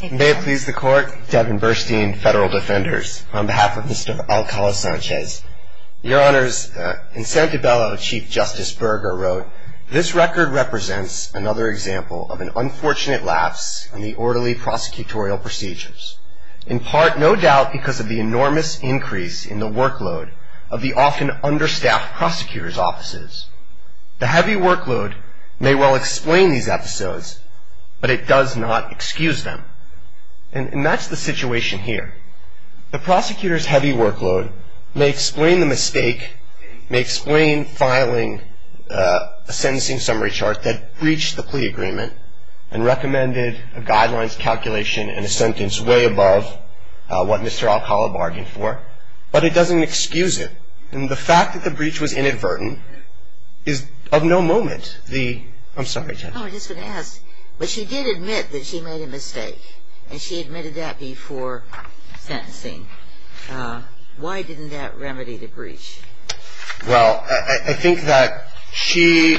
May it please the Court, Devin Burstein, Federal Defenders, on behalf of Mr. Alcala-Sanchez. Your Honors, in Santibelo, Chief Justice Berger wrote, This record represents another example of an unfortunate lapse in the orderly prosecutorial procedures, in part, no doubt, because of the enormous increase in the workload of the often understaffed prosecutor's offices. The heavy workload may well explain these episodes, but it does not excuse them. And that's the situation here. The prosecutor's heavy workload may explain the mistake, may explain filing a sentencing summary chart that breached the plea agreement and recommended a guidelines calculation and a sentence way above what Mr. Alcala bargained for, but it doesn't excuse it. And the fact that the breach was inadvertent is of no moment the, I'm sorry, Jen. No, I just want to ask, but she did admit that she made a mistake, and she admitted that before sentencing. Why didn't that remedy the breach? Well, I think that she,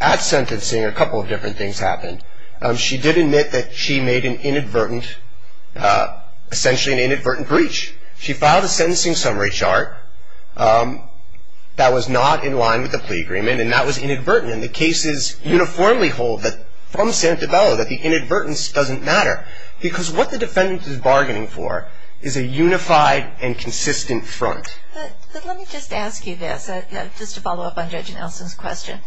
at sentencing, a couple of different things happened. She did admit that she made an inadvertent, essentially an inadvertent breach. She filed a sentencing summary chart that was not in line with the plea agreement, and that was inadvertent. And the cases uniformly hold that from Senate DiBello that the inadvertence doesn't matter, because what the defendant is bargaining for is a unified and consistent front. But let me just ask you this, just to follow up on Judge Nelson's question.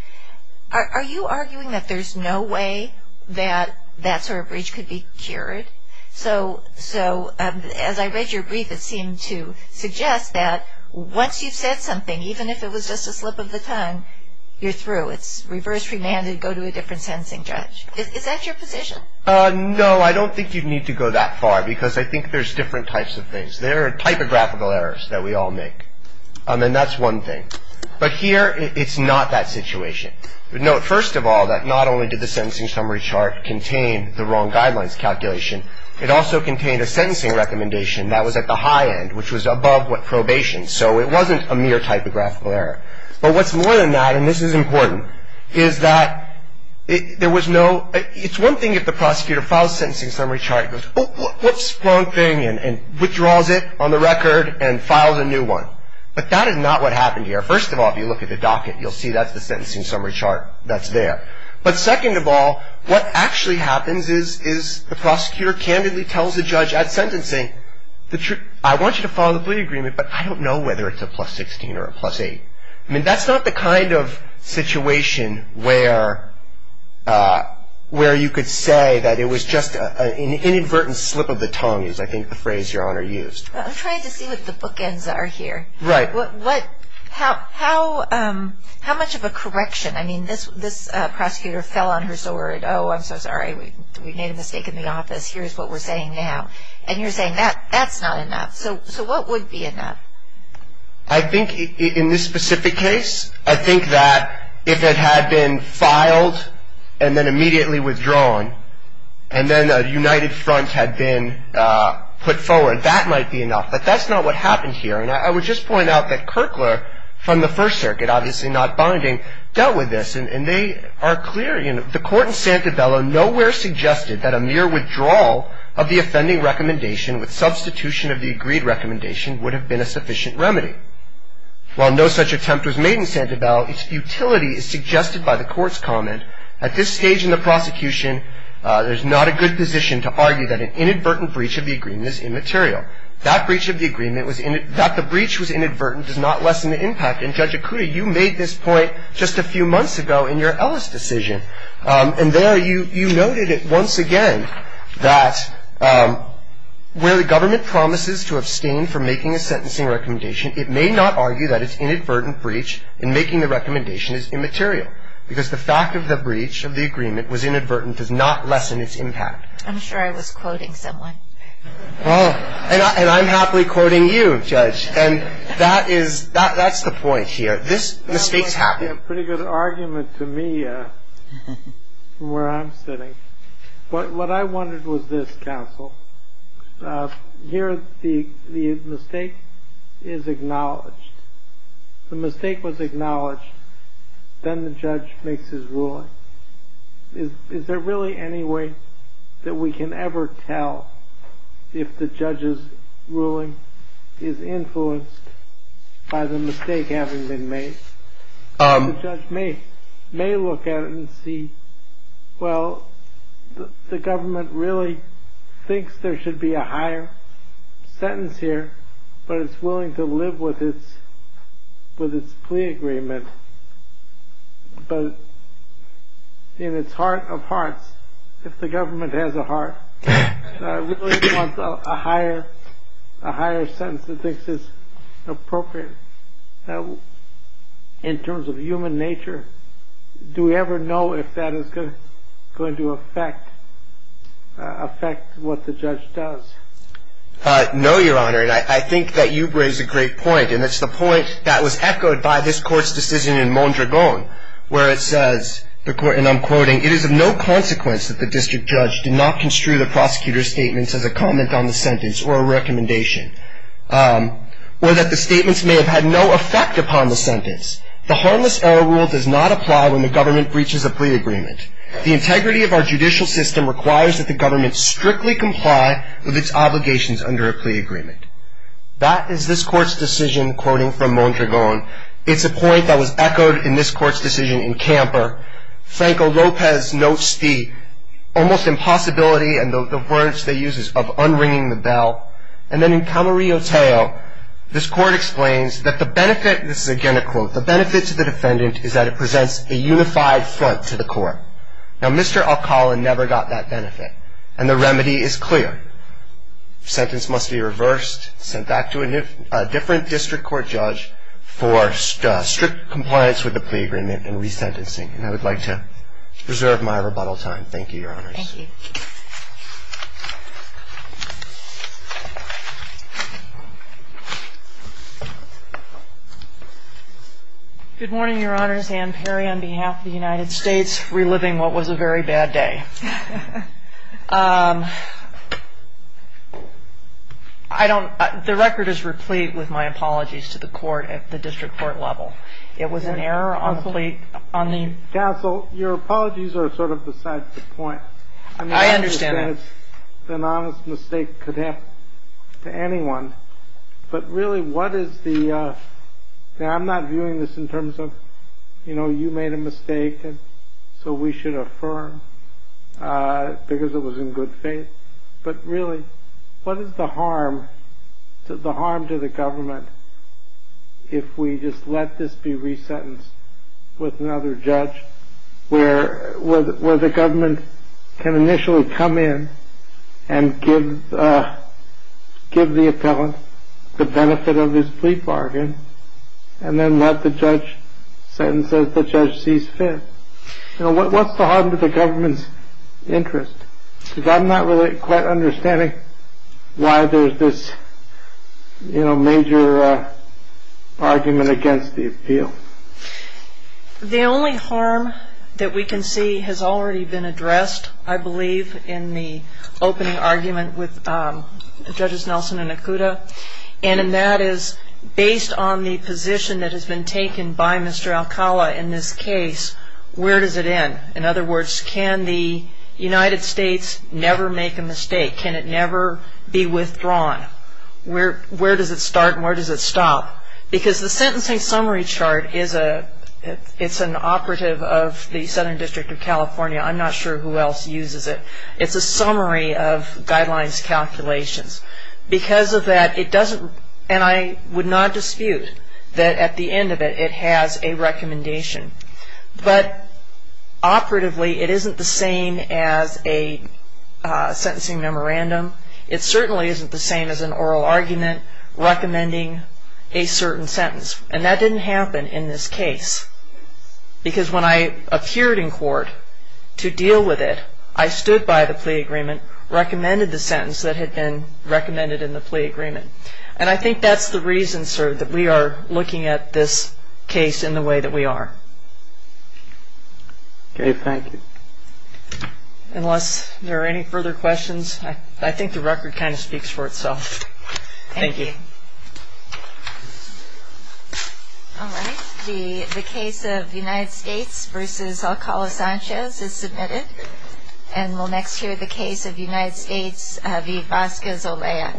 Are you arguing that there's no way that that sort of breach could be cured? So as I read your brief, it seemed to suggest that once you've said something, even if it was just a slip of the tongue, you're through. It's reverse remand and go to a different sentencing judge. Is that your position? No, I don't think you'd need to go that far, because I think there's different types of things. There are typographical errors that we all make, and that's one thing. But here, it's not that situation. Note, first of all, that not only did the sentencing summary chart contain the wrong guidelines calculation, it also contained a sentencing recommendation that was at the high end, which was above probation. So it wasn't a mere typographical error. But what's more than that, and this is important, is that there was no – it's one thing if the prosecutor files a sentencing summary chart and goes, oops, wrong thing, and withdraws it on the record and files a new one. But that is not what happened here. First of all, if you look at the docket, you'll see that's the sentencing summary chart that's there. But second of all, what actually happens is the prosecutor candidly tells the judge at sentencing, I want you to follow the plea agreement, but I don't know whether it's a plus 16 or a plus 8. I mean, that's not the kind of situation where you could say that it was just an inadvertent slip of the tongue, is I think the phrase Your Honor used. I'm trying to see what the bookends are here. Right. How much of a correction? I mean, this prosecutor fell on her sword. Oh, I'm so sorry. We made a mistake in the office. Here's what we're saying now. And you're saying that's not enough. So what would be enough? I think in this specific case, I think that if it had been filed and then immediately withdrawn and then a united front had been put forward, that might be enough. But that's not what happened here. And I would just point out that Kirkler from the First Circuit, obviously not binding, dealt with this. And they are clear. The court in Santabella nowhere suggested that a mere withdrawal of the offending recommendation with substitution of the agreed recommendation would have been a sufficient remedy. While no such attempt was made in Santabella, its futility is suggested by the court's comment. At this stage in the prosecution, there's not a good position to argue that an inadvertent breach of the agreement is immaterial. That the breach was inadvertent does not lessen the impact. And, Judge Okuda, you made this point just a few months ago in your Ellis decision. And there you noted it once again, that where the government promises to abstain from making a sentencing recommendation, it may not argue that its inadvertent breach in making the recommendation is immaterial. Because the fact of the breach of the agreement was inadvertent does not lessen its impact. I'm sure I was quoting someone. Oh, and I'm happily quoting you, Judge. And that is, that's the point here. This mistake's happened. That's a pretty good argument to me from where I'm sitting. What I wanted was this, counsel. Here the mistake is acknowledged. The mistake was acknowledged. Then the judge makes his ruling. Is there really any way that we can ever tell if the judge's ruling is influenced by the mistake having been made? The judge may look at it and see, well, the government really thinks there should be a higher sentence here. But it's willing to live with its plea agreement. But in its heart of hearts, if the government has a heart, really wants a higher sentence that makes this appropriate in terms of human nature, do we ever know if that is going to affect what the judge does? No, Your Honor, and I think that you raise a great point, and it's the point that was echoed by this Court's decision in Mondragon where it says, and I'm quoting, it is of no consequence that the district judge did not construe the prosecutor's statements as a comment on the sentence or a recommendation, or that the statements may have had no effect upon the sentence. The harmless error rule does not apply when the government breaches a plea agreement. The integrity of our judicial system requires that the government strictly comply with its obligations under a plea agreement. That is this Court's decision, quoting from Mondragon. It's a point that was echoed in this Court's decision in Camper. Franco Lopez notes the almost impossibility and the words they use of unringing the bell. And then in Camarillo-Teo, this Court explains that the benefit, this is again a quote, the benefit to the defendant is that it presents a unified front to the Court. Now, Mr. Alcala never got that benefit, and the remedy is clear. The sentence must be reversed, sent back to a different district court judge for strict compliance with the plea agreement and resentencing. And I would like to reserve my rebuttal time. Thank you, Your Honors. Thank you. Good morning, Your Honors. Ann Perry on behalf of the United States, reliving what was a very bad day. I don't, the record is replete with my apologies to the Court at the district court level. It was an error on the plea, on the- Counsel, your apologies are sort of besides the point. I understand that. An honest mistake could happen to anyone. But really, what is the, now I'm not viewing this in terms of, you know, you made a mistake, and so we should affirm because it was in good faith. But really, what is the harm, the harm to the government if we just let this be resentenced with another judge, where the government can initially come in and give the appellant the benefit of his plea bargain, and then let the judge sentence that the judge sees fit? You know, what's the harm to the government's interest? Because I'm not really quite understanding why there's this, you know, major argument against the appeal. The only harm that we can see has already been addressed, I believe, in the opening argument with Judges Nelson and Nakuda, and that is based on the position that has been taken by Mr. Alcala in this case, where does it end? In other words, can the United States never make a mistake? Can it never be withdrawn? Where does it start and where does it stop? Because the sentencing summary chart is an operative of the Southern District of California. I'm not sure who else uses it. It's a summary of guidelines calculations. Because of that, it doesn't, and I would not dispute that at the end of it, it has a recommendation. But operatively, it isn't the same as a sentencing memorandum. It certainly isn't the same as an oral argument recommending a certain sentence. And that didn't happen in this case. Because when I appeared in court to deal with it, I stood by the plea agreement, recommended the sentence that had been recommended in the plea agreement. And I think that's the reason, sir, that we are looking at this case in the way that we are. Okay, thank you. Unless there are any further questions, I think the record kind of speaks for itself. Thank you. All right, the case of United States v. Alcala-Sanchez is submitted. And we'll next hear the case of United States v. Vasquez-Olea.